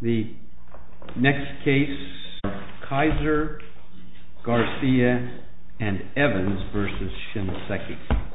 The next case, Kaiser, Garcia, and Evans versus Shinseki. The next case, Kaiser, Garcia, and Evans versus Shinseki.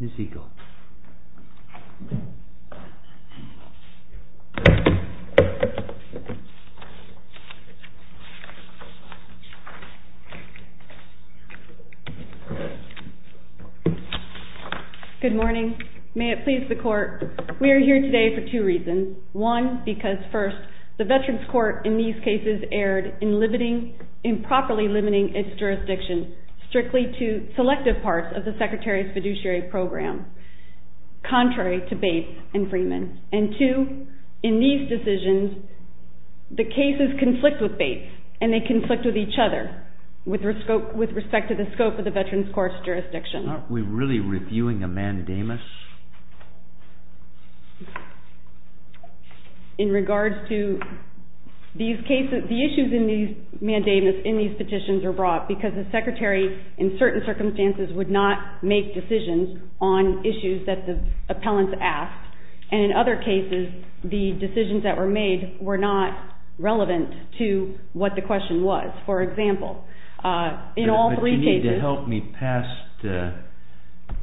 Here's the equal. Good morning. May it please the court. We are here today for two reasons. One, because first, the Veterans Court in these cases erred in improperly limiting its jurisdiction strictly to selective parts of the Secretary's fiduciary program, contrary to Bates and Freeman. And two, in these decisions, the cases conflict with Bates, and they conflict with each other with respect to the scope of the Veterans Court's jurisdiction. Aren't we really reviewing a mandamus? In regards to these cases, the issues in these petitions are brought because the Secretary in certain circumstances would not make decisions on issues that the appellants asked, and in other cases, the decisions that were made were not relevant to what the question was. For example, in all three cases- But you need to help me pass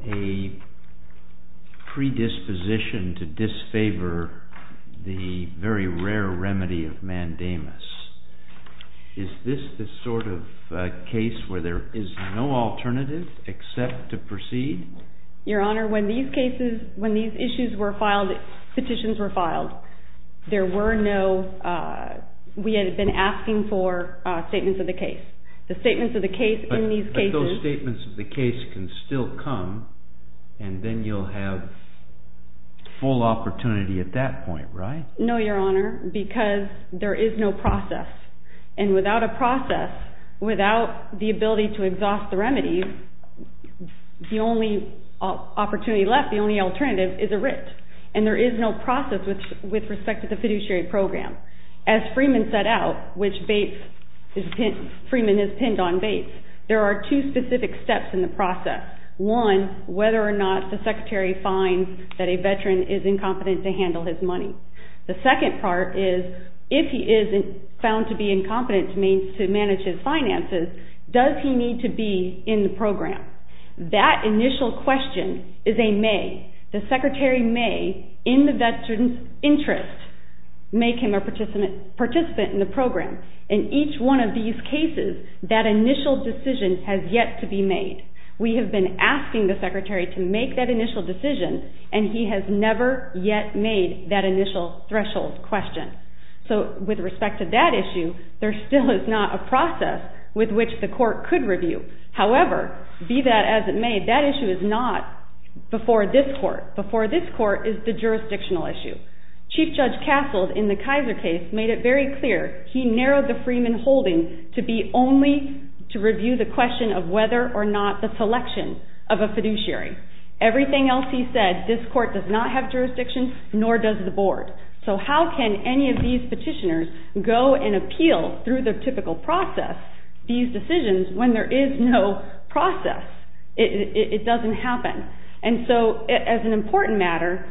a predisposition to disfavor the very rare remedy of mandamus. Is this the sort of case where there is no alternative except to proceed? Your Honor, when these cases, when these issues were filed, petitions were filed, there were no-we had been asking for statements of the case. The statements of the case in these cases- But those statements of the case can still come, and then you'll have full opportunity at that point, right? No, Your Honor, because there is no process. And without a process, without the ability to exhaust the remedy, the only opportunity left, the only alternative is a writ, and there is no process with respect to the fiduciary program. As Freeman set out, which Freeman has pinned on Bates, there are two specific steps in the process. One, whether or not the Secretary finds that a Veteran is incompetent to handle his money. The second part is, if he is found to be incompetent to manage his finances, does he need to be in the program? That initial question is a may. The Secretary may, in the Veteran's interest, make him a participant in the program. In each one of these cases, that initial decision has yet to be made. We have been asking the Secretary to make that initial decision, and he has never yet made that initial threshold question. So, with respect to that issue, there still is not a process with which the Court could review. However, be that as it may, that issue is not before this Court. Before this Court is the jurisdictional issue. Chief Judge Castles, in the Kaiser case, made it very clear. He narrowed the Freeman holding to be only to review the question of whether or not the selection of a fiduciary. Everything else he said, this Court does not have jurisdiction, nor does the Board. So how can any of these petitioners go and appeal through the typical process, these decisions, when there is no process? It doesn't happen. And so, as an important matter,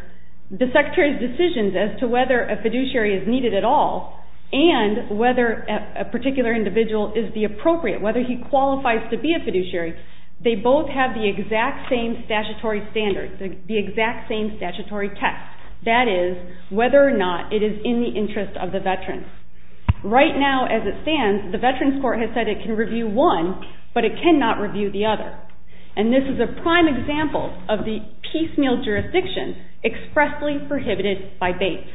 the Secretary's decisions as to whether a fiduciary is needed at all, and whether a particular individual is the appropriate, whether he qualifies to be a fiduciary, they both have the exact same statutory standard, the exact same statutory test. That is, whether or not it is in the interest of the Veterans. Right now, as it stands, the Veterans Court has said it can review one, but it cannot review the other. And this is a prime example of the piecemeal jurisdiction expressly prohibited by Bates.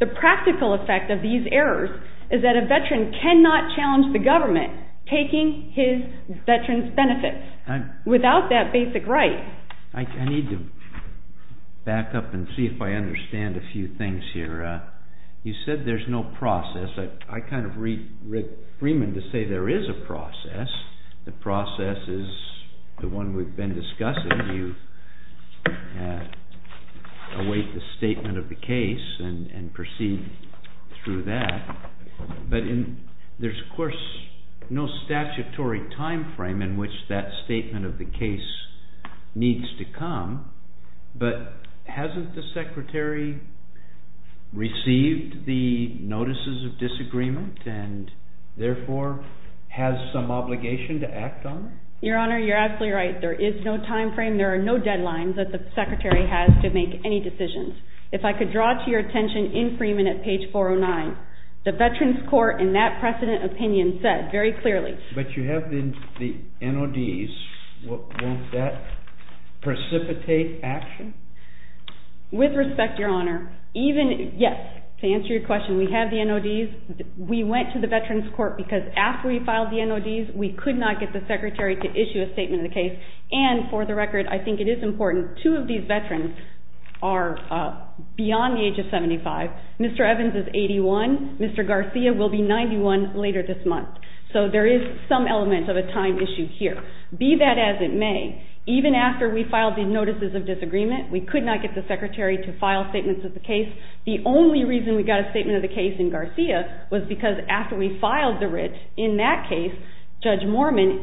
The practical effect of these errors is that a Veteran cannot challenge the government taking his Veterans' benefits without that basic right. I need to back up and see if I understand a few things here. You said there's no process. I kind of read Freeman to say there is a process. The process is the one we've been discussing. You await the statement of the case and proceed through that. But there's, of course, no statutory time frame in which that statement of the case needs to come. But hasn't the Secretary received the notices of disagreement and therefore has some obligation to act on it? Your Honor, you're absolutely right. There is no time frame. There are no deadlines that the Secretary has to make any decisions. If I could draw to your attention in Freeman at page 409, the Veterans Court in that precedent opinion said very clearly. But you have the NODs. Won't that precipitate action? With respect, Your Honor, yes. To answer your question, we have the NODs. We went to the Veterans Court because after we filed the NODs, we could not get the Secretary to issue a statement of the case. And for the record, I think it is important, two of these Veterans are beyond the age of 75. Mr. Evans is 81. Mr. Garcia will be 91 later this month. So there is some element of a time issue here. Be that as it may, even after we filed the notices of disagreement, we could not get the Secretary to file statements of the case. The only reason we got a statement of the case in Garcia was because after we filed the writ in that case, Judge Mormon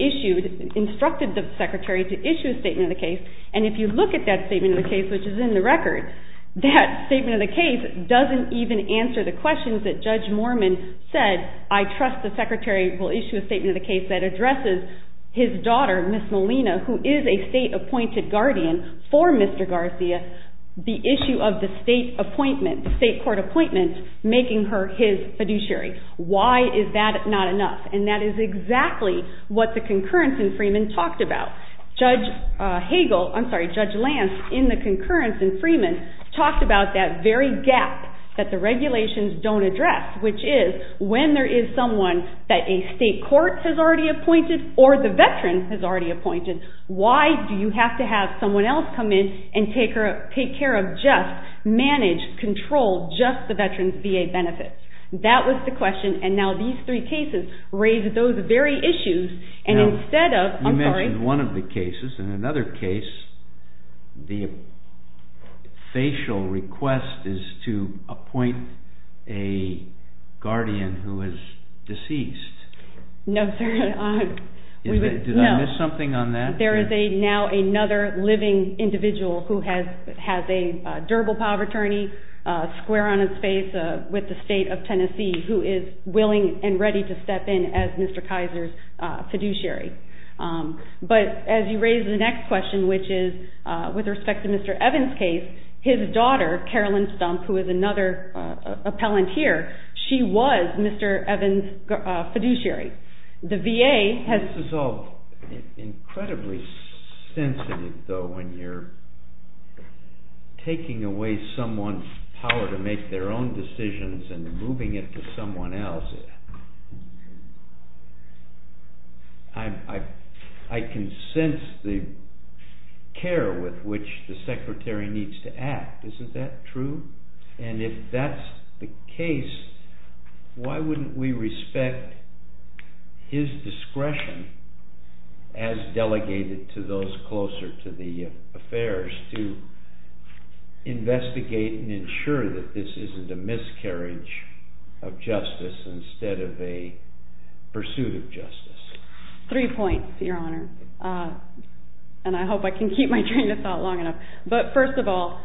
instructed the Secretary to issue a statement of the case. And if you look at that statement of the case, which is in the record, that statement of the case doesn't even answer the questions that Judge Mormon said, I trust the Secretary will issue a statement of the case that addresses his daughter, Ms. Molina, who is a state-appointed guardian for Mr. Garcia, the issue of the state appointment, the state court appointment making her his fiduciary. Why is that not enough? And that is exactly what the concurrence in Freeman talked about. Judge Hagel, I'm sorry, Judge Lance, in the concurrence in Freeman, talked about that very gap that the regulations don't address, which is when there is someone that a state court has already appointed or the veteran has already appointed, why do you have to have someone else come in and take care of just manage, control, just the veteran's VA benefits? That was the question. And now these three cases raise those very issues. You mentioned one of the cases. In another case, the facial request is to appoint a guardian who is deceased. No, sir. Did I miss something on that? There is now another living individual who has a durable power of attorney, square on his face, with the state of Tennessee, who is willing and ready to step in as Mr. Kaiser's fiduciary. But as you raise the next question, which is with respect to Mr. Evans' case, his daughter, Carolyn Stumpf, who is another appellant here, she was Mr. Evans' fiduciary. This is all incredibly sensitive, though. When you're taking away someone's power to make their own decisions and moving it to someone else, I can sense the care with which the secretary needs to act. Isn't that true? And if that's the case, why wouldn't we respect his discretion, as delegated to those closer to the affairs, to investigate and ensure that this isn't a miscarriage of justice instead of a pursuit of justice? Three points, Your Honor. And I hope I can keep my train of thought long enough. But first of all,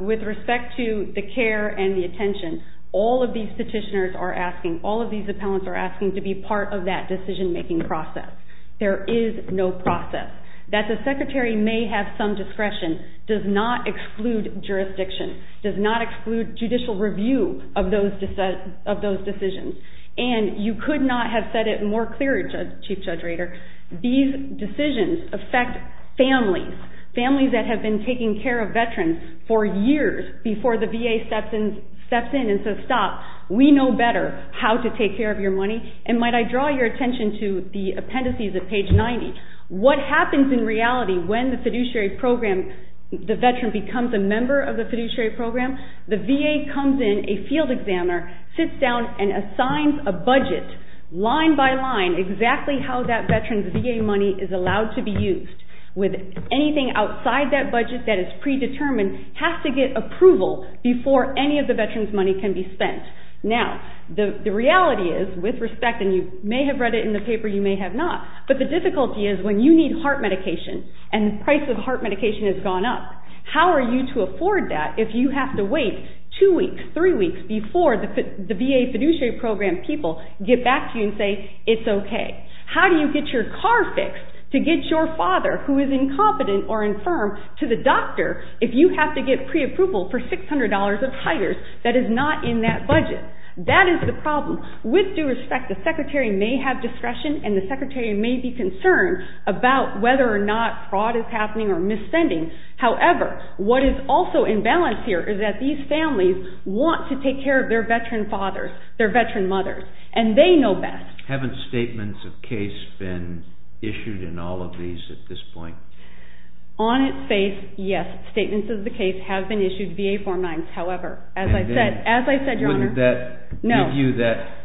with respect to the care and the attention, all of these petitioners are asking, all of these appellants are asking, to be part of that decision-making process. There is no process. That the secretary may have some discretion does not exclude jurisdiction, does not exclude judicial review of those decisions. And you could not have said it more clearly, Chief Judge Rader, these decisions affect families, families that have been taking care of veterans for years before the VA steps in and says, stop, we know better how to take care of your money. And might I draw your attention to the appendices at page 90. What happens in reality when the fiduciary program, the veteran becomes a member of the fiduciary program, the VA comes in, a field examiner, sits down and assigns a budget, line by line exactly how that veteran's VA money is allowed to be used, with anything outside that budget that is predetermined has to get approval before any of the veteran's money can be spent. Now, the reality is, with respect, and you may have read it in the paper, you may have not, but the difficulty is when you need heart medication and the price of heart medication has gone up, how are you to afford that if you have to wait two weeks, three weeks, before the VA fiduciary program people get back to you and say, it's okay? How do you get your car fixed to get your father, who is incompetent or infirm, to the doctor if you have to get preapproval for $600 of titers that is not in that budget? That is the problem. With due respect, the secretary may have discretion and the secretary may be concerned about whether or not fraud is happening or misspending. However, what is also imbalanced here is that these families want to take care of their veteran fathers, their veteran mothers, and they know best. Haven't statements of case been issued in all of these at this point? On its face, yes. Statements of the case have been issued via Form 9. However, as I said, Your Honor, no. Wouldn't that give you that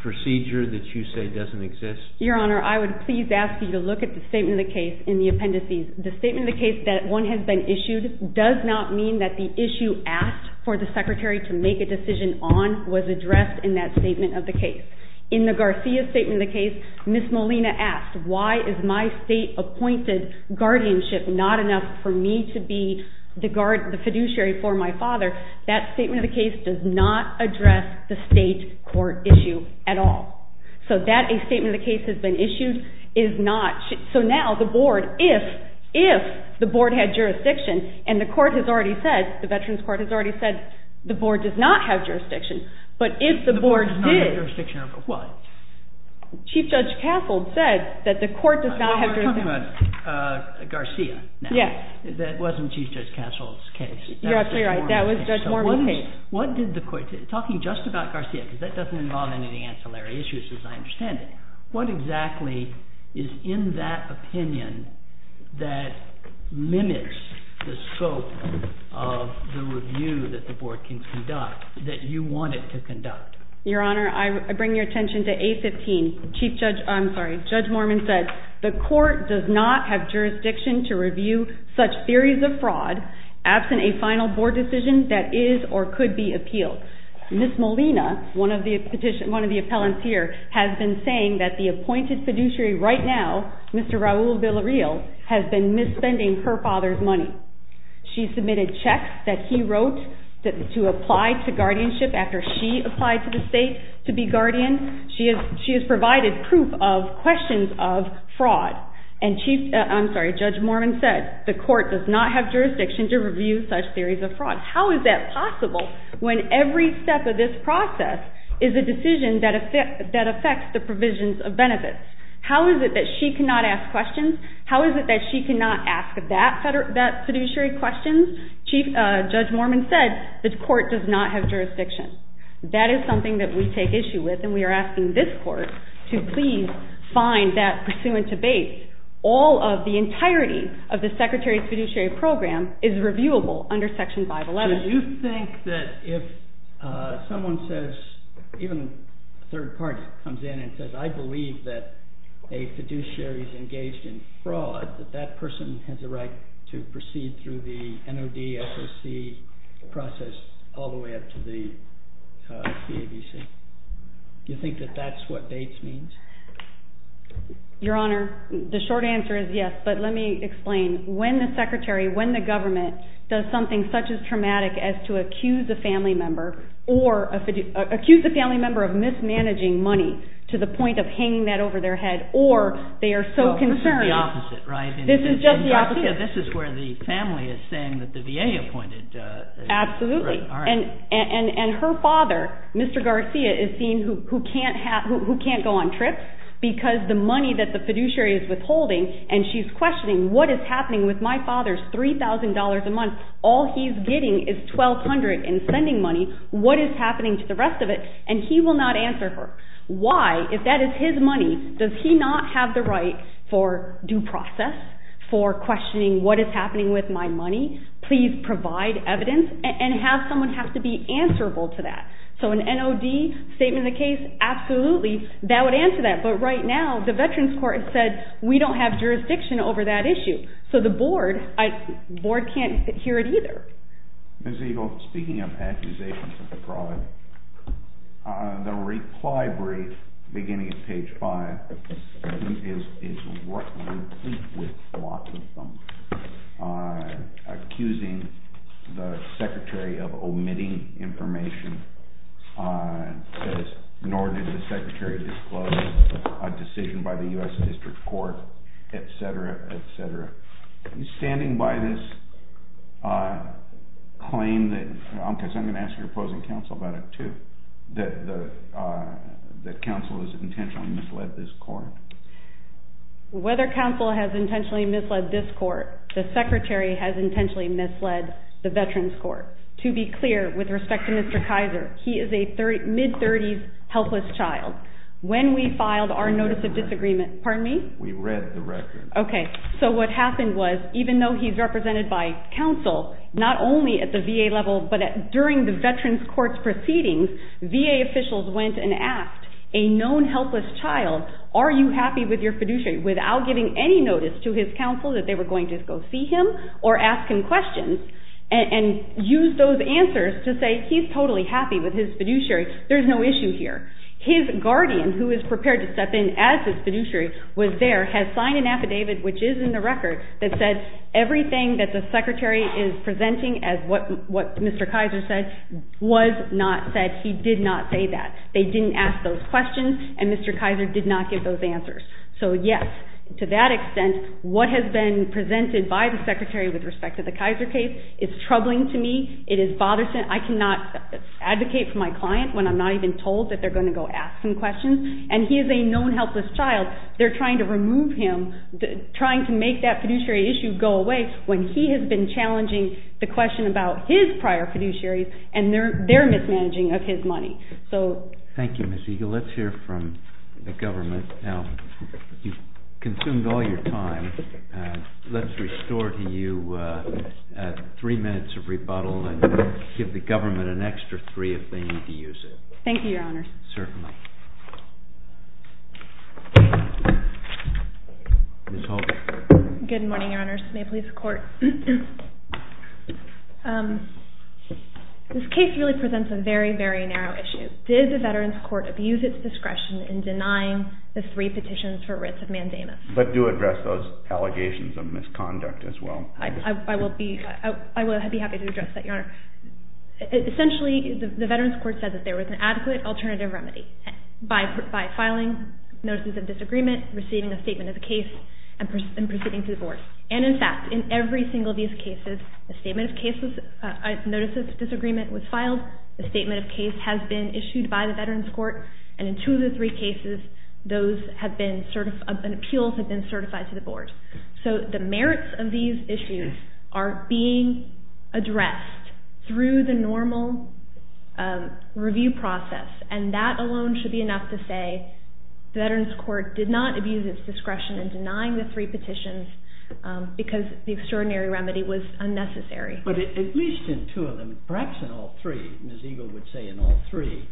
procedure that you say doesn't exist? Your Honor, I would please ask you to look at the statement of the case in the appendices. The statement of the case that one has been issued does not mean that the issue asked for the secretary to make a decision on was addressed in that statement of the case. In the Garcia statement of the case, Ms. Molina asked, why is my state-appointed guardianship not enough for me to be the fiduciary for my father? That statement of the case does not address the state court issue at all. So that a statement of the case has been issued is not. So now the board, if the board had jurisdiction, and the court has already said, the Veterans Court has already said the board does not have jurisdiction. But if the board did. The board does not have jurisdiction over what? Chief Judge Castle said that the court does not have jurisdiction. We're talking about Garcia now. Yes. That wasn't Chief Judge Castle's case. You're absolutely right. That was Judge Mormon's case. What did the court say? Talking just about Garcia, because that doesn't involve any of the ancillary issues as I understand it. What exactly is in that opinion that limits the scope of the review that the board can conduct, that you want it to conduct? Your Honor, I bring your attention to A15. Chief Judge, I'm sorry, Judge Mormon said, the court does not have jurisdiction to review such theories of fraud Ms. Molina, one of the appellants here, has been saying that the appointed fiduciary right now, Mr. Raul Villarreal, has been misspending her father's money. She submitted checks that he wrote to apply to guardianship after she applied to the state to be guardian. She has provided proof of questions of fraud. And Chief, I'm sorry, Judge Mormon said, the court does not have jurisdiction to review such theories of fraud. How is that possible when every step of this process is a decision that affects the provisions of benefits? How is it that she cannot ask questions? How is it that she cannot ask that fiduciary questions? Judge Mormon said, the court does not have jurisdiction. That is something that we take issue with, and we are asking this court to please find that pursuant to base, all of the entirety of the Secretary's fiduciary program is reviewable under Section 511. Do you think that if someone says, even a third party comes in and says, I believe that a fiduciary is engaged in fraud, that that person has a right to proceed through the NOD, SOC process all the way up to the CABC? Do you think that that's what Bates means? Your Honor, the short answer is yes. But let me explain. When the Secretary, when the government does something such as traumatic as to accuse a family member, or accuse a family member of mismanaging money to the point of hanging that over their head, or they are so concerned. Well, this is the opposite, right? This is just the opposite. This is where the family is saying that the VA appointed. Absolutely. And her father, Mr. Garcia, is seen who can't go on trips, because the money that the fiduciary is withholding, and she's questioning what is happening with my father's $3,000 a month. All he's getting is $1,200 in spending money. What is happening to the rest of it? And he will not answer her. Why? If that is his money, does he not have the right for due process, for questioning what is happening with my money? Please provide evidence, and someone has to be answerable to that. So an NOD, statement of the case, absolutely, that would answer that. But right now, the Veterans Court has said, we don't have jurisdiction over that issue. So the Board, the Board can't hear it either. Ms. Eagle, speaking of accusations of fraud, the reply brief, beginning at page 5, is complete with lots of them. Accusing the Secretary of omitting information, nor did the Secretary disclose a decision by the U.S. District Court, etc., etc. Are you standing by this claim that, because I'm going to ask your opposing counsel about it too, that counsel has intentionally misled this court? Whether counsel has intentionally misled this court, the Secretary has intentionally misled the Veterans Court. To be clear, with respect to Mr. Kaiser, he is a mid-30s, helpless child. When we filed our Notice of Disagreement, pardon me? We read the record. Okay. So what happened was, even though he's represented by counsel, not only at the VA level, but during the Veterans Court's proceedings, VA officials went and asked a known helpless child, are you happy with your fiduciary, without giving any notice to his counsel that they were going to go see him or ask him questions, and used those answers to say, he's totally happy with his fiduciary, there's no issue here. His guardian, who is prepared to step in as his fiduciary, was there, has signed an affidavit, which is in the record, that says everything that the Secretary is presenting as what Mr. Kaiser said was not said, he did not say that. They didn't ask those questions, and Mr. Kaiser did not give those answers. So yes, to that extent, what has been presented by the Secretary with respect to the Kaiser case is troubling to me, it is bothersome, I cannot advocate for my client when I'm not even told that they're going to go ask some questions, and he is a known helpless child. They're trying to remove him, trying to make that fiduciary issue go away, when he has been challenging the question about his prior fiduciaries and their mismanaging of his money. Thank you, Ms. Eagle. Let's hear from the government. You've consumed all your time, let's restore to you three minutes of rebuttal and give the government an extra three if they need to use it. Thank you, Your Honor. Certainly. Ms. Holtz. Good morning, Your Honor. This case really presents a very, very narrow issue. Did the Veterans Court abuse its discretion in denying the three petitions for writs of mandamus? But do address those allegations of misconduct as well. I will be happy to address that, Your Honor. Essentially, the Veterans Court said that there was an adequate alternative remedy, by filing notices of disagreement, receiving a statement of the case, and proceeding to the board. And in fact, in every single of these cases, a statement of cases, a notice of disagreement was filed, a statement of case has been issued by the Veterans Court, and in two of the three cases, appeals have been certified to the board. So the merits of these issues are being addressed through the normal review process, and that alone should be enough to say the Veterans Court did not abuse its discretion in denying the three petitions because the extraordinary remedy was unnecessary. But at least in two of them, perhaps in all three, Ms. Eagle would say in all three,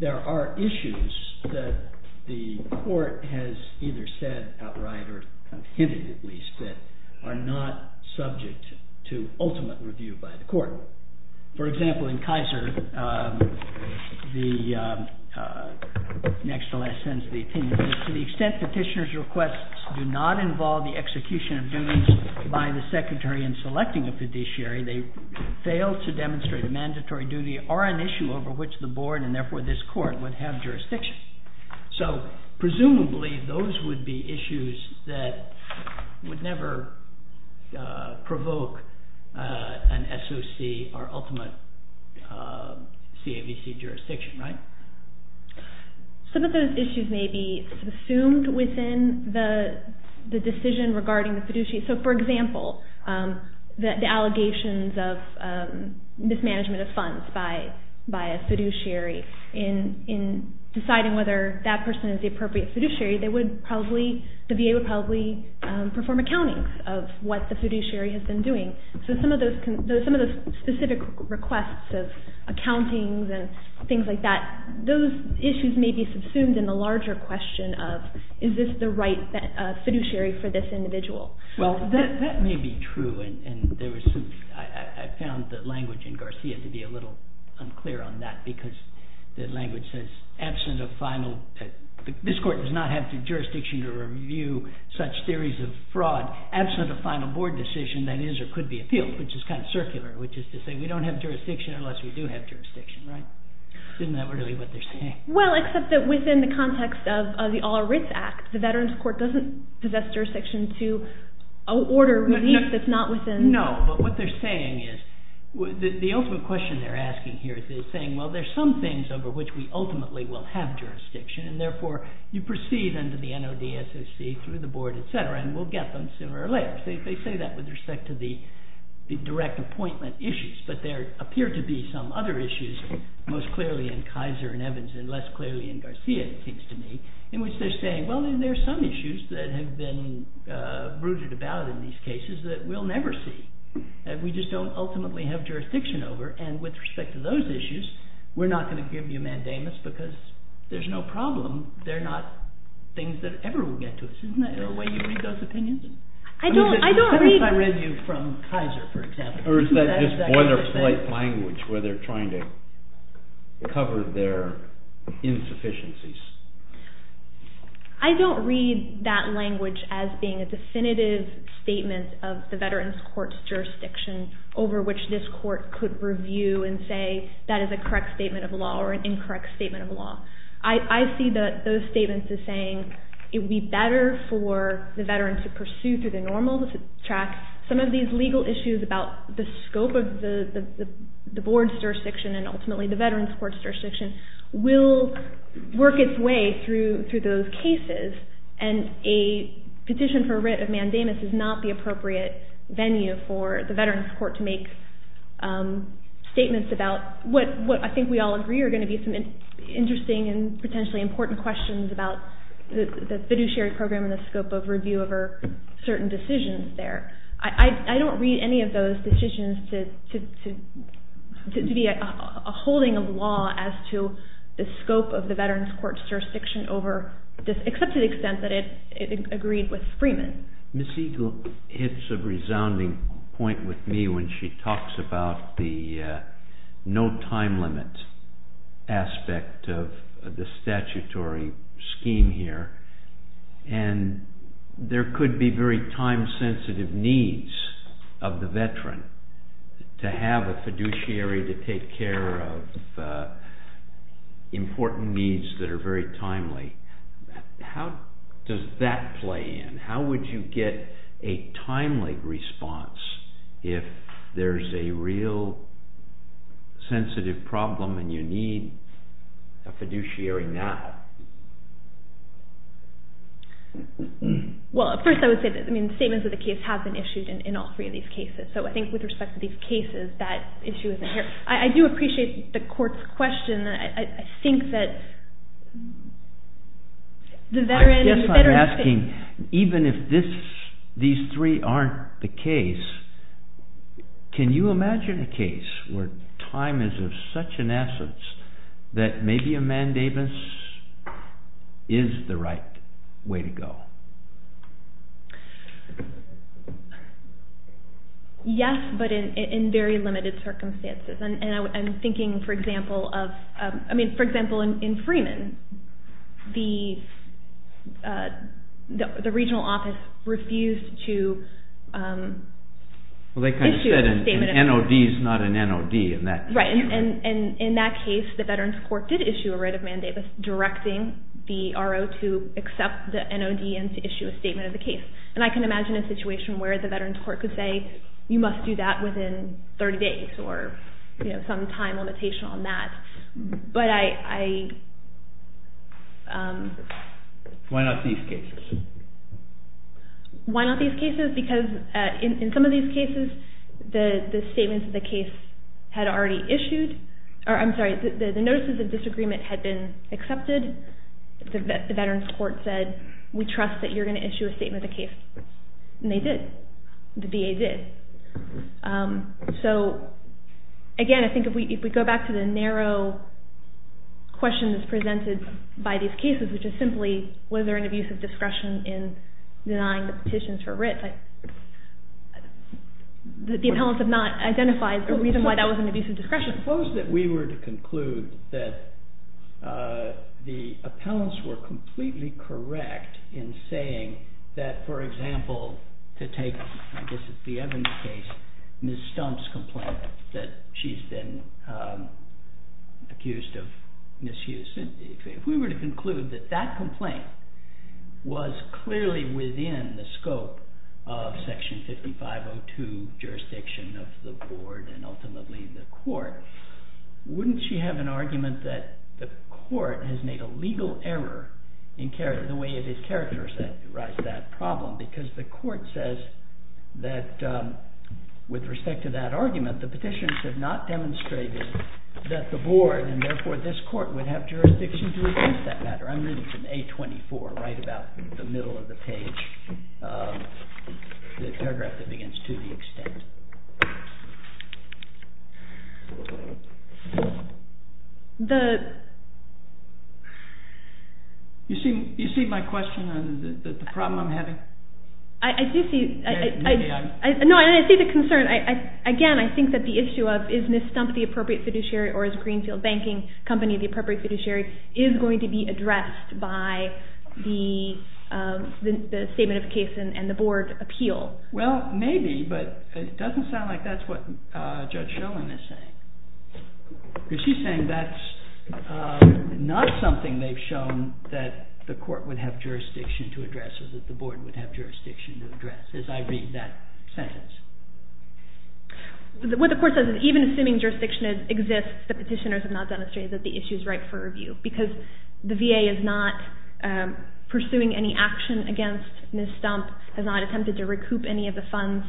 there are issues that the court has either said outright or hinted at least that are not subject to ultimate review by the court. For example, in Kaiser, the next to last sentence of the opinion is to the extent petitioner's requests do not involve the execution of duties by the secretary in selecting a fiduciary, they fail to demonstrate a mandatory duty or an issue over which the board, and therefore this court, would have jurisdiction. So presumably, those would be issues that would never provoke an SOC, our ultimate CAVC jurisdiction, right? Some of those issues may be assumed within the decision regarding the fiduciary. So for example, the allegations of mismanagement of funds by a fiduciary in deciding whether that person is the appropriate fiduciary, the VA would probably perform accountings of what the fiduciary has been doing. So some of those specific requests of accountings and things like that, those issues may be subsumed in the larger question of is this the right fiduciary for this individual? Well, that may be true, and I found the language in Garcia to be a little unclear on that because the language says, this court does not have the jurisdiction to review such theories of fraud absent a final board decision that is or could be appealed, which is kind of circular, which is to say we don't have jurisdiction unless we do have jurisdiction, right? Isn't that really what they're saying? Well, except that within the context of the All Writs Act, the Veterans Court doesn't possess jurisdiction to order relief that's not within... No, but what they're saying is, the ultimate question they're asking here is they're saying, well, there's some things over which we ultimately will have jurisdiction, and therefore you proceed under the NOD SOC through the board, etc., and we'll get them sooner or later. They say that with respect to the direct appointment issues, but there appear to be some other issues, most clearly in Kaiser and Evans and less clearly in Garcia, it seems to me, in which they're saying, well, there are some issues that have been brooded about in these cases that we'll never see. We just don't ultimately have jurisdiction over, and with respect to those issues, we're not going to give you mandamus because there's no problem. They're not things that ever will get to us. Isn't that the way you read those opinions? Every time I read you from Kaiser, for example... Or is that just boilerplate language where they're trying to cover their insufficiencies? I don't read that language as being a definitive statement of the Veterans Court's jurisdiction over which this court could review and say that is a correct statement of law or an incorrect statement of law. I see those statements as saying it would be better for the veteran to pursue through the normal track. Some of these legal issues about the scope of the board's jurisdiction and ultimately the Veterans Court's jurisdiction will work its way through those cases, and a petition for writ of mandamus is not the appropriate venue for the Veterans Court to make statements about what I think we all agree are going to be some interesting and potentially important questions about the fiduciary program and the scope of review over certain decisions there. I don't read any of those decisions to be a holding of law as to the scope of the Veterans Court's jurisdiction except to the extent that it agreed with Freeman. Ms. Eagle hits a resounding point with me when she talks about the no time limit aspect of the statutory scheme here, and there could be very time-sensitive needs of the veteran to have a fiduciary to take care of important needs that are very timely. How does that play in? How would you get a timely response if there's a real sensitive problem and you need a fiduciary now? Well, first I would say that statements of the case have been issued in all three of these cases, so I think with respect to these cases that issue isn't here. I do appreciate the court's question. I guess I'm asking, even if these three aren't the case, can you imagine a case where time is of such an essence that maybe a mandamus is the right way to go? Yes, but in very limited circumstances. For example, in Freeman, the regional office refused to issue a statement of the case. Well, they said an NOD is not an NOD in that case. Right, and in that case, the Veterans Court did issue a writ of mandamus directing the RO to accept the NOD and to issue a statement of the case, and I can imagine a situation where the Veterans Court could say, okay, you must do that within 30 days or some time limitation on that, but I... Why not these cases? Why not these cases? Because in some of these cases, the statements of the case had already issued, or I'm sorry, the notices of disagreement had been accepted. The Veterans Court said, we trust that you're going to issue a statement of the case, and they did. The VA did. So, again, I think if we go back to the narrow question that's presented by these cases, which is simply was there an abusive discretion in denying the petitions for writ, the appellants have not identified a reason why that was an abusive discretion. Suppose that we were to conclude that the appellants were completely correct in saying that, for example, to take, I guess, the Evans case, Ms. Stump's complaint that she's been accused of misuse. If we were to conclude that that complaint was clearly within the scope of Section 5502 jurisdiction of the board and ultimately the court, wouldn't she have an argument that the court has made a legal error in the way that it characterizes that problem? Because the court says that, with respect to that argument, the petitions have not demonstrated that the board, and therefore this court, would have jurisdiction to address that matter. I'm reading from A24, right about the middle of the page, the paragraph that begins, to the extent. You see my question on the problem I'm having? I do see. No, I see the concern. Again, I think that the issue of, is Ms. Stump the appropriate fiduciary or is Greenfield Banking Company the appropriate fiduciary, is going to be addressed by the statement of case and the board appeal. Well, maybe, but it doesn't sound like that's what Judge Schoen is saying. Because she's saying that's not something they've shown that the court would have jurisdiction to address or that the board would have jurisdiction to address, as I read that sentence. What the court says is, even assuming jurisdiction exists, the petitioners have not demonstrated that the issue is ripe for review because the VA is not pursuing any action against Ms. Stump, has not attempted to recoup any of the funds.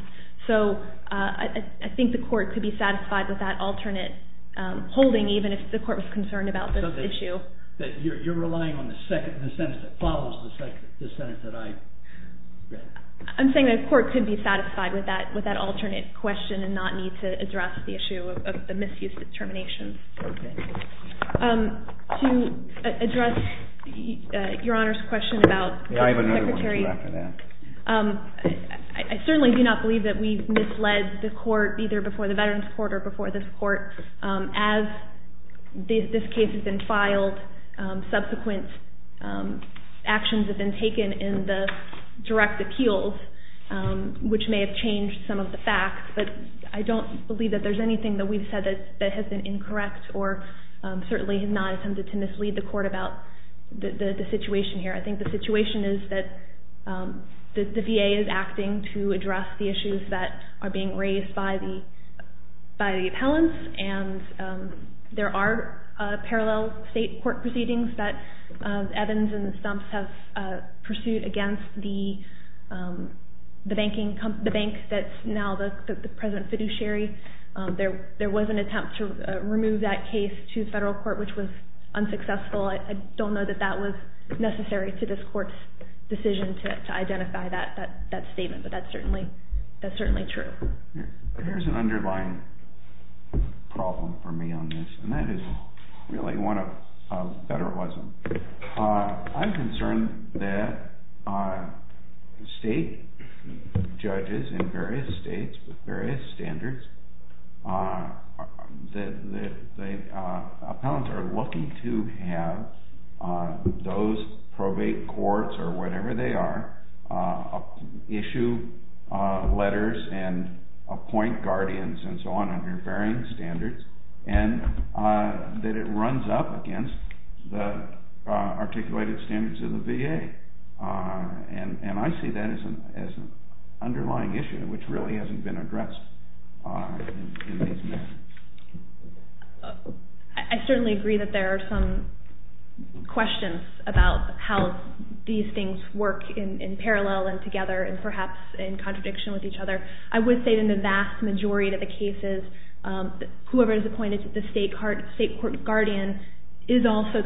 So I think the court could be satisfied with that alternate holding, even if the court was concerned about this issue. So you're relying on the sentence that follows the sentence that I read? I'm saying the court could be satisfied with that alternate question and not need to address the issue of the misuse determination. Okay. To address Your Honor's question about Secretary... I certainly do not believe that we've misled the court, either before the Veterans Court or before this court. As this case has been filed, subsequent actions have been taken in the direct appeals, which may have changed some of the facts. But I don't believe that there's anything that we've said that has been incorrect or certainly has not attempted to mislead the court about the situation here. I think the situation is that the VA is acting to address the issues that are being raised by the appellants, and there are parallel state court proceedings that Evans and Stumps have pursued against the bank that's now the present fiduciary. There was an attempt to remove that case to federal court, which was unsuccessful. I don't know that that was necessary to this court's decision to identify that statement, but that's certainly true. Here's an underlying problem for me on this, and that is really one of federalism. I'm concerned that state judges in various states with various standards, that appellants are lucky to have those probate courts or whatever they are issue letters and appoint guardians and so on under varying standards, and that it runs up against the articulated standards of the VA. And I see that as an underlying issue which really hasn't been addressed in these matters. I certainly agree that there are some questions about how these things work in parallel and together and perhaps in contradiction with each other. I would say that in the vast majority of the cases, whoever is appointed the state court guardian is also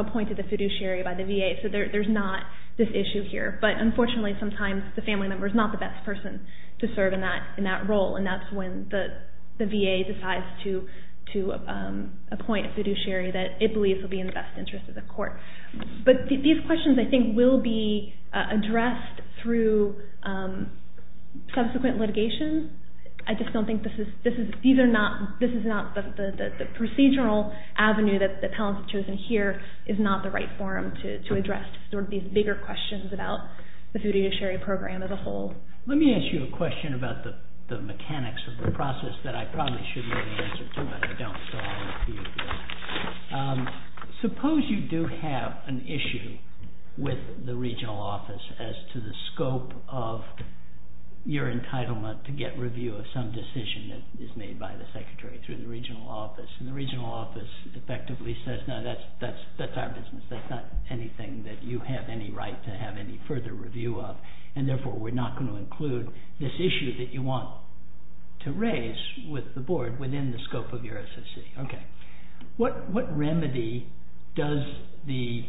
appointed the fiduciary by the VA, so there's not this issue here. But unfortunately, sometimes the family member is not the best person to serve in that role, and that's when the VA decides to appoint a fiduciary that it believes will be in the best interest of the court. But these questions, I think, will be addressed through subsequent litigation. I just don't think this is... This is not the procedural avenue that appellants have chosen here. It's not the right forum to address these bigger questions about the fiduciary program as a whole. Let me ask you a question about the mechanics of the process that I probably should know the answer to, but I don't, so I'll leave it to you. Suppose you do have an issue with the regional office as to the scope of your entitlement to get review of some decision that is made by the secretary through the regional office, and the regional office effectively says, no, that's our business. That's not anything that you have any right to have any further review of, and therefore we're not going to include this issue that you want to raise with the board within the scope of your SSC. Okay. What remedy does the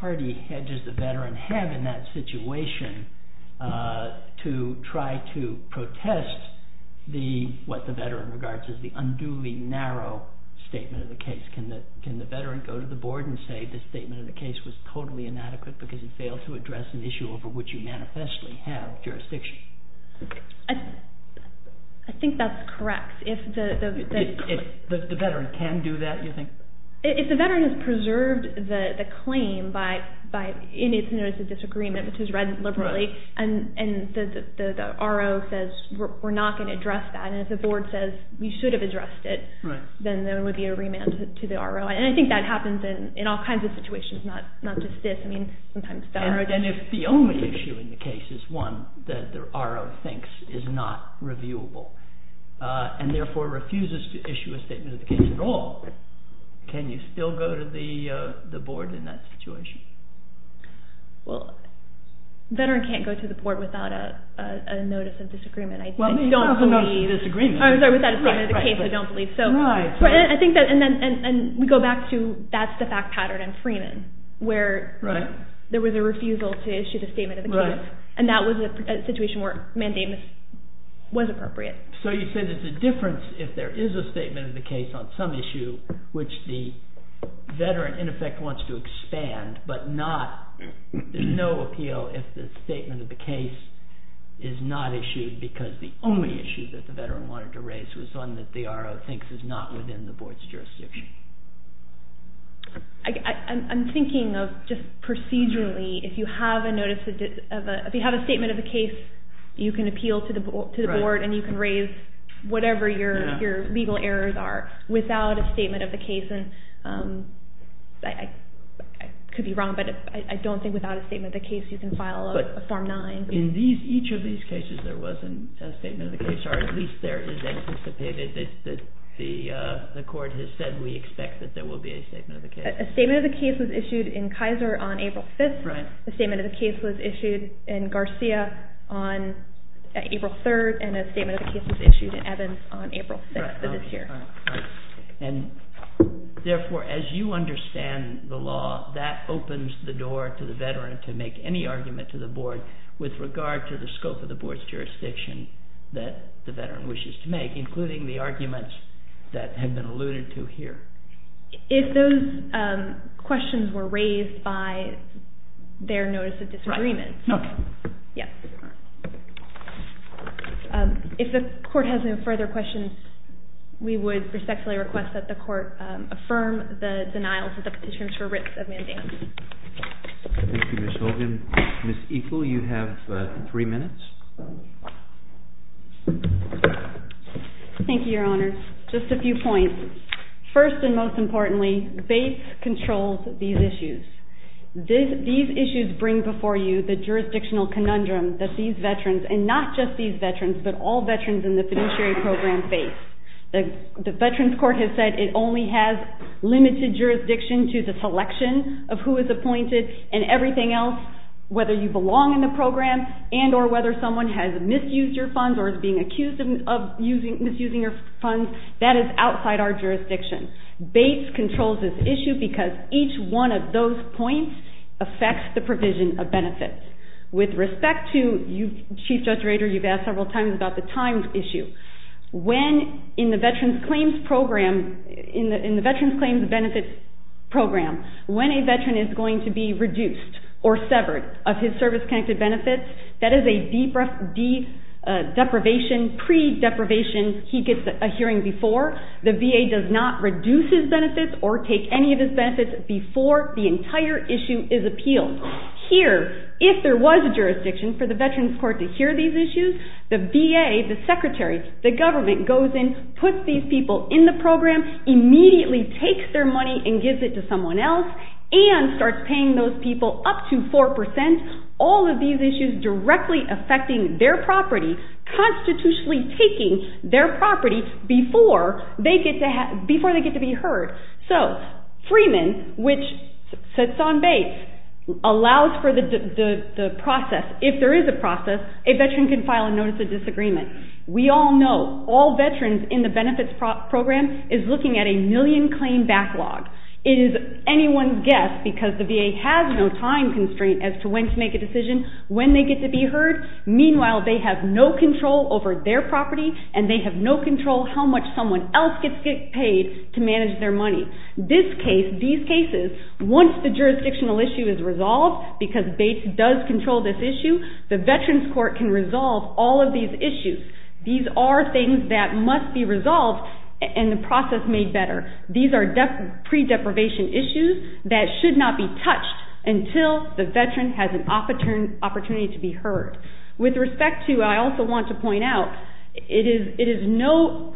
party hedges the veteran have in that situation to try to protest what the veteran regards as the unduly narrow statement of the case? Can the veteran go to the board and say the statement of the case was totally inadequate because it failed to address an issue over which you manifestly have jurisdiction? I think that's correct. The veteran can do that, you think? If the veteran has preserved the claim in its notice of disagreement, which is read liberally, and the RO says we're not going to address that, and if the board says we should have addressed it, then there would be a remand to the RO, and I think that happens in all kinds of situations, not just this. And if the only issue in the case is one that the RO thinks is not reviewable, and therefore refuses to issue a statement of the case at all, can you still go to the board in that situation? Well, the veteran can't go to the board without a notice of disagreement. I don't believe... I'm sorry, without a statement of the case, I don't believe. And we go back to, that's the fact pattern in Freeman, where there was a refusal to issue the statement of the case, and that was a situation where mandamus was appropriate. So you say there's a difference if there is a statement of the case on some issue which the veteran, in effect, wants to expand, but there's no appeal if the statement of the case is not issued because the only issue that the veteran wanted to raise was one that the RO thinks is not within the board's jurisdiction. I'm thinking of just procedurally, if you have a statement of the case, you can appeal to the board, and you can raise whatever your legal errors are without a statement of the case. And I could be wrong, but I don't think without a statement of the case you can file a Form 9. In each of these cases, there wasn't a statement of the case, or at least there is anticipated. The court has said we expect that there will be a statement of the case. A statement of the case was issued in Kaiser on April 5th. The statement of the case was issued in Garcia on April 3rd, and a statement of the case was issued in Evans on April 6th of this year. And therefore, as you understand the law, that opens the door to the veteran to make any argument to the board with regard to the scope of the board's jurisdiction that the veteran wishes to make, including the arguments that have been alluded to here. If those questions were raised by their notice of disagreement... Right. No. Yes. If the court has no further questions, we would respectfully request that the court affirm the denials of the petitions for writs of mandate. Thank you, Ms. Holgen. Ms. Eagle, you have three minutes. Thank you, Your Honor. Just a few points. First and most importantly, BASE controls these issues. These issues bring before you the jurisdictional conundrum that these veterans, and not just these veterans, but all veterans in the fiduciary program face. The Veterans Court has said it only has limited jurisdiction to the selection of who is appointed and everything else, whether you belong in the program and or whether someone has misused your funds or is being accused of misusing your funds. That is outside our jurisdiction. BASE controls this issue because each one of those points affects the provision of benefits. With respect to... Chief Judge Rader, you've asked several times about the times issue. When, in the Veterans Claims Benefits Program, when a veteran is going to be reduced or severed of his service-connected benefits, that is a deprivation, pre-deprivation. He gets a hearing before. The VA does not reduce his benefits or take any of his benefits before the entire issue is appealed. Here, if there was a jurisdiction for the Veterans Court to hear these issues, the VA, the Secretary, the government, goes in, puts these people in the program, immediately takes their money and gives it to someone else and starts paying those people up to 4%. All of these issues directly affecting their property, constitutionally taking their property before they get to be heard. So, Freeman, which sits on BASE, allows for the process. If there is a process, a veteran can file a Notice of Disagreement. We all know, all veterans in the benefits program is looking at a million-claim backlog. It is anyone's guess, because the VA has no time constraint as to when to make a decision, when they get to be heard. Meanwhile, they have no control over their property and they have no control how much someone else gets paid to manage their money. These cases, once the jurisdictional issue is resolved, because BASE does control this issue, the Veterans Court can resolve all of these issues. These are things that must be resolved and the process made better. These are pre-deprivation issues that should not be touched until the veteran has an opportunity to be heard. With respect to, I also want to point out, it is no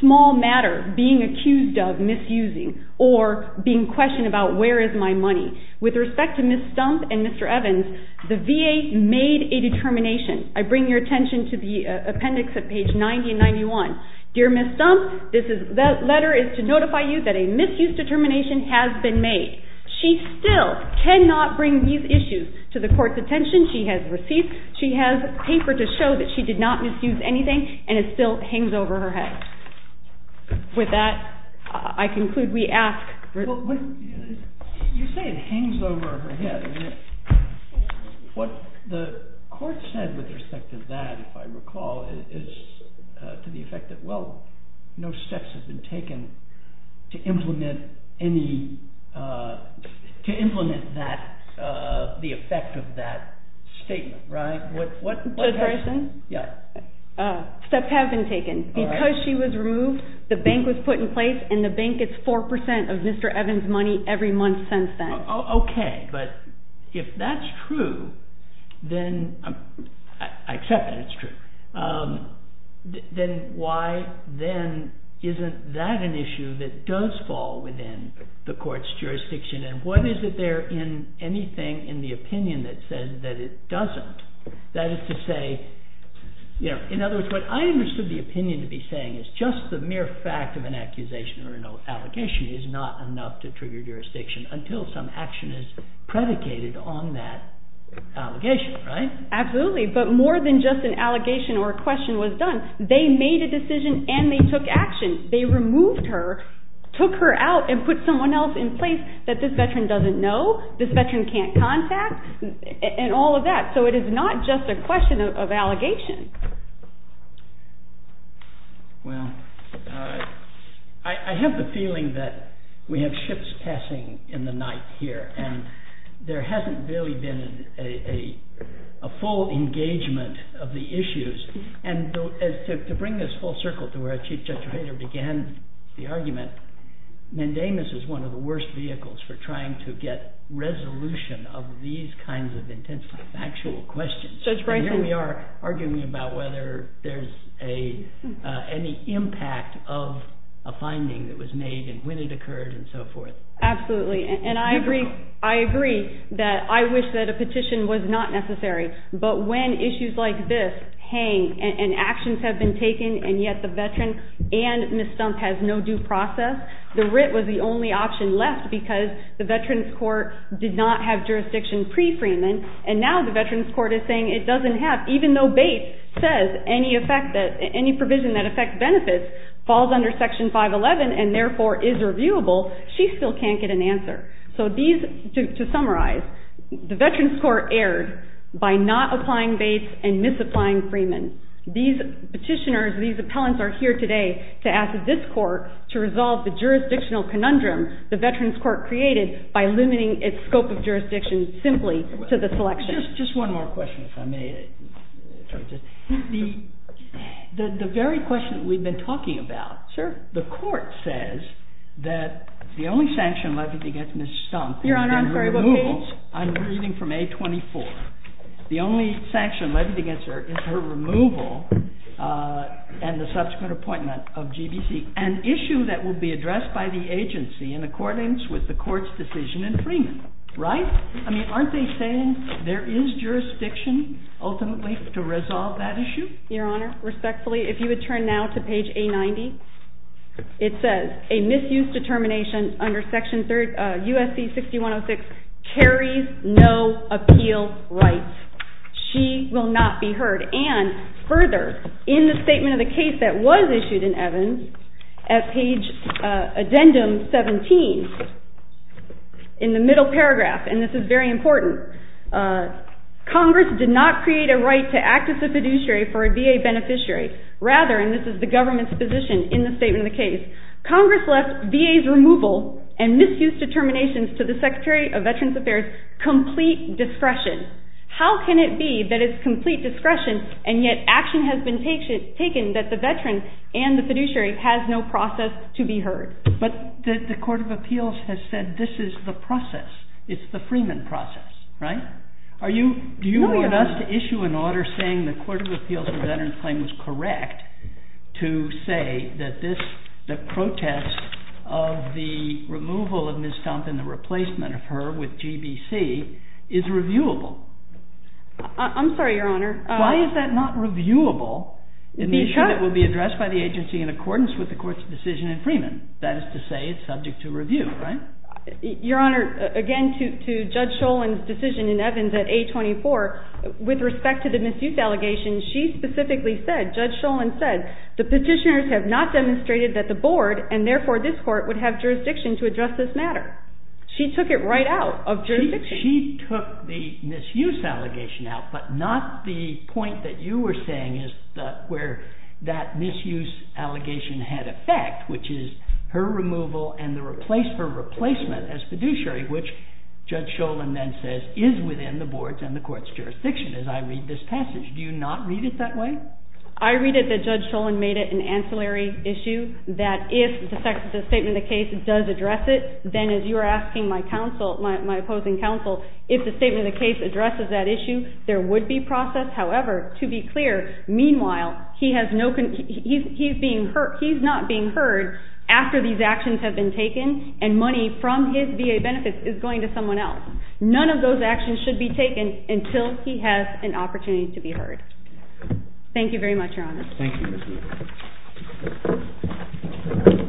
small matter being accused of misusing or being questioned about where is my money. With respect to Ms. Stump and Mr. Evans, the VA made a determination. I bring your attention to the appendix at page 90 and 91. Dear Ms. Stump, that letter is to notify you that a misuse determination has been made. She still cannot bring these issues to the court's attention. She has receipts. She has paper to show that she did not misuse anything and it still hangs over her head. With that, I conclude we ask... You say it hangs over her head. What the court said with respect to that, if I recall, is to the effect that, well, no steps have been taken to implement that, the effect of that statement, right? What happened? Steps have been taken. Because she was removed, the bank was put in place and the bank gets 4% of Mr. Evans' money every month since then. Okay, but if that's true, then... I accept that it's true. Then why, then, isn't that an issue that does fall within the court's jurisdiction? And what is it there in anything in the opinion that says that it doesn't? That is to say... In other words, what I understood the opinion to be saying is just the mere fact of an accusation or an allegation is not enough to trigger jurisdiction until some action is predicated on that allegation, right? Absolutely, but more than just an allegation or a question was done, they made a decision and they took action. They removed her, took her out and put someone else in place that this veteran doesn't know, this veteran can't contact, and all of that, so it is not just a question of allegation. Well, I have the feeling that we have ships passing in the night here and there hasn't really been a full engagement of the issues. And to bring this full circle to where Chief Judge Rader began the argument, mandamus is one of the worst vehicles for trying to get resolution of these kinds of intensely factual questions. And here we are arguing about whether there's any impact of a finding that was made and when it occurred and so forth. Absolutely, and I agree that I wish that a petition was not necessary. But when issues like this hang and actions have been taken and yet the veteran and Ms. Stumpf have no due process, the writ was the only option left because the Veterans Court did not have jurisdiction pre-Freeman and now the Veterans Court is saying it doesn't have. Even though Bates says any provision that affects benefits falls under Section 511 and therefore is reviewable, she still can't get an answer. So to summarize, the Veterans Court erred by not applying Bates and misapplying Freeman. These petitioners, these appellants are here today to ask this court to resolve the jurisdictional conundrum the Veterans Court created by limiting its scope of jurisdiction simply to the selection. Just one more question if I may. The very question that we've been talking about, the court says that the only sanction levied against Ms. Stumpf is her removal. Your Honor, I'm sorry, what page? I'm reading from A24. The only sanction levied against her is her removal and the subsequent appointment of GBC, an issue that will be addressed by the agency in accordance with the court's decision in Freeman, right? I mean, aren't they saying there is jurisdiction ultimately to resolve that issue? Your Honor, respectfully, if you would turn now to page A90, it says a misuse determination under section USC 6106 carries no appeal right. She will not be heard. And further, in the statement of the case that was issued in Evans, at page addendum 17, in the middle paragraph, and this is very important, Congress did not create a right to act as a fiduciary for a VA beneficiary. Rather, and this is the government's position in the statement of the case, Congress left VA's removal and misuse determinations to the Secretary of Veterans Affairs complete discretion. How can it be that it's complete discretion and yet action has been taken that the veteran and the fiduciary has no process to be heard? But the Court of Appeals has said this is the process. It's the Freeman process, right? Do you want us to issue an order saying the Court of Appeals or the Veterans Claim was correct to say that this, the protest of the removal of Ms. Thompson, the replacement of her with GBC, is reviewable? I'm sorry, Your Honor. Why is that not reviewable in the issue that will be addressed by the agency in accordance with the Court's decision in Freeman? That is to say it's subject to review, right? Your Honor, again, to Judge Sholin's decision in Evans at A24, with respect to the misuse allegation, she specifically said, Judge Sholin said, the petitioners have not demonstrated that the Board, and therefore this Court, would have jurisdiction to address this matter. She took it right out of jurisdiction. She took the misuse allegation out, but not the point that you were saying is where that misuse allegation had effect, which is her removal and her replacement as fiduciary, which Judge Sholin then says is within the Board's and the Court's jurisdiction, as I read this passage. Do you not read it that way? I read it that Judge Sholin made it an ancillary issue that if the statement of the case does address it, then as you are asking my opposing counsel, if the statement of the case addresses that issue, there would be process. However, to be clear, meanwhile, he's not being heard after these actions have been taken, and money from his VA benefits is going to someone else. None of those actions should be taken until he has an opportunity to be heard. Thank you very much, Your Honor. Thank you, Ms. Neal.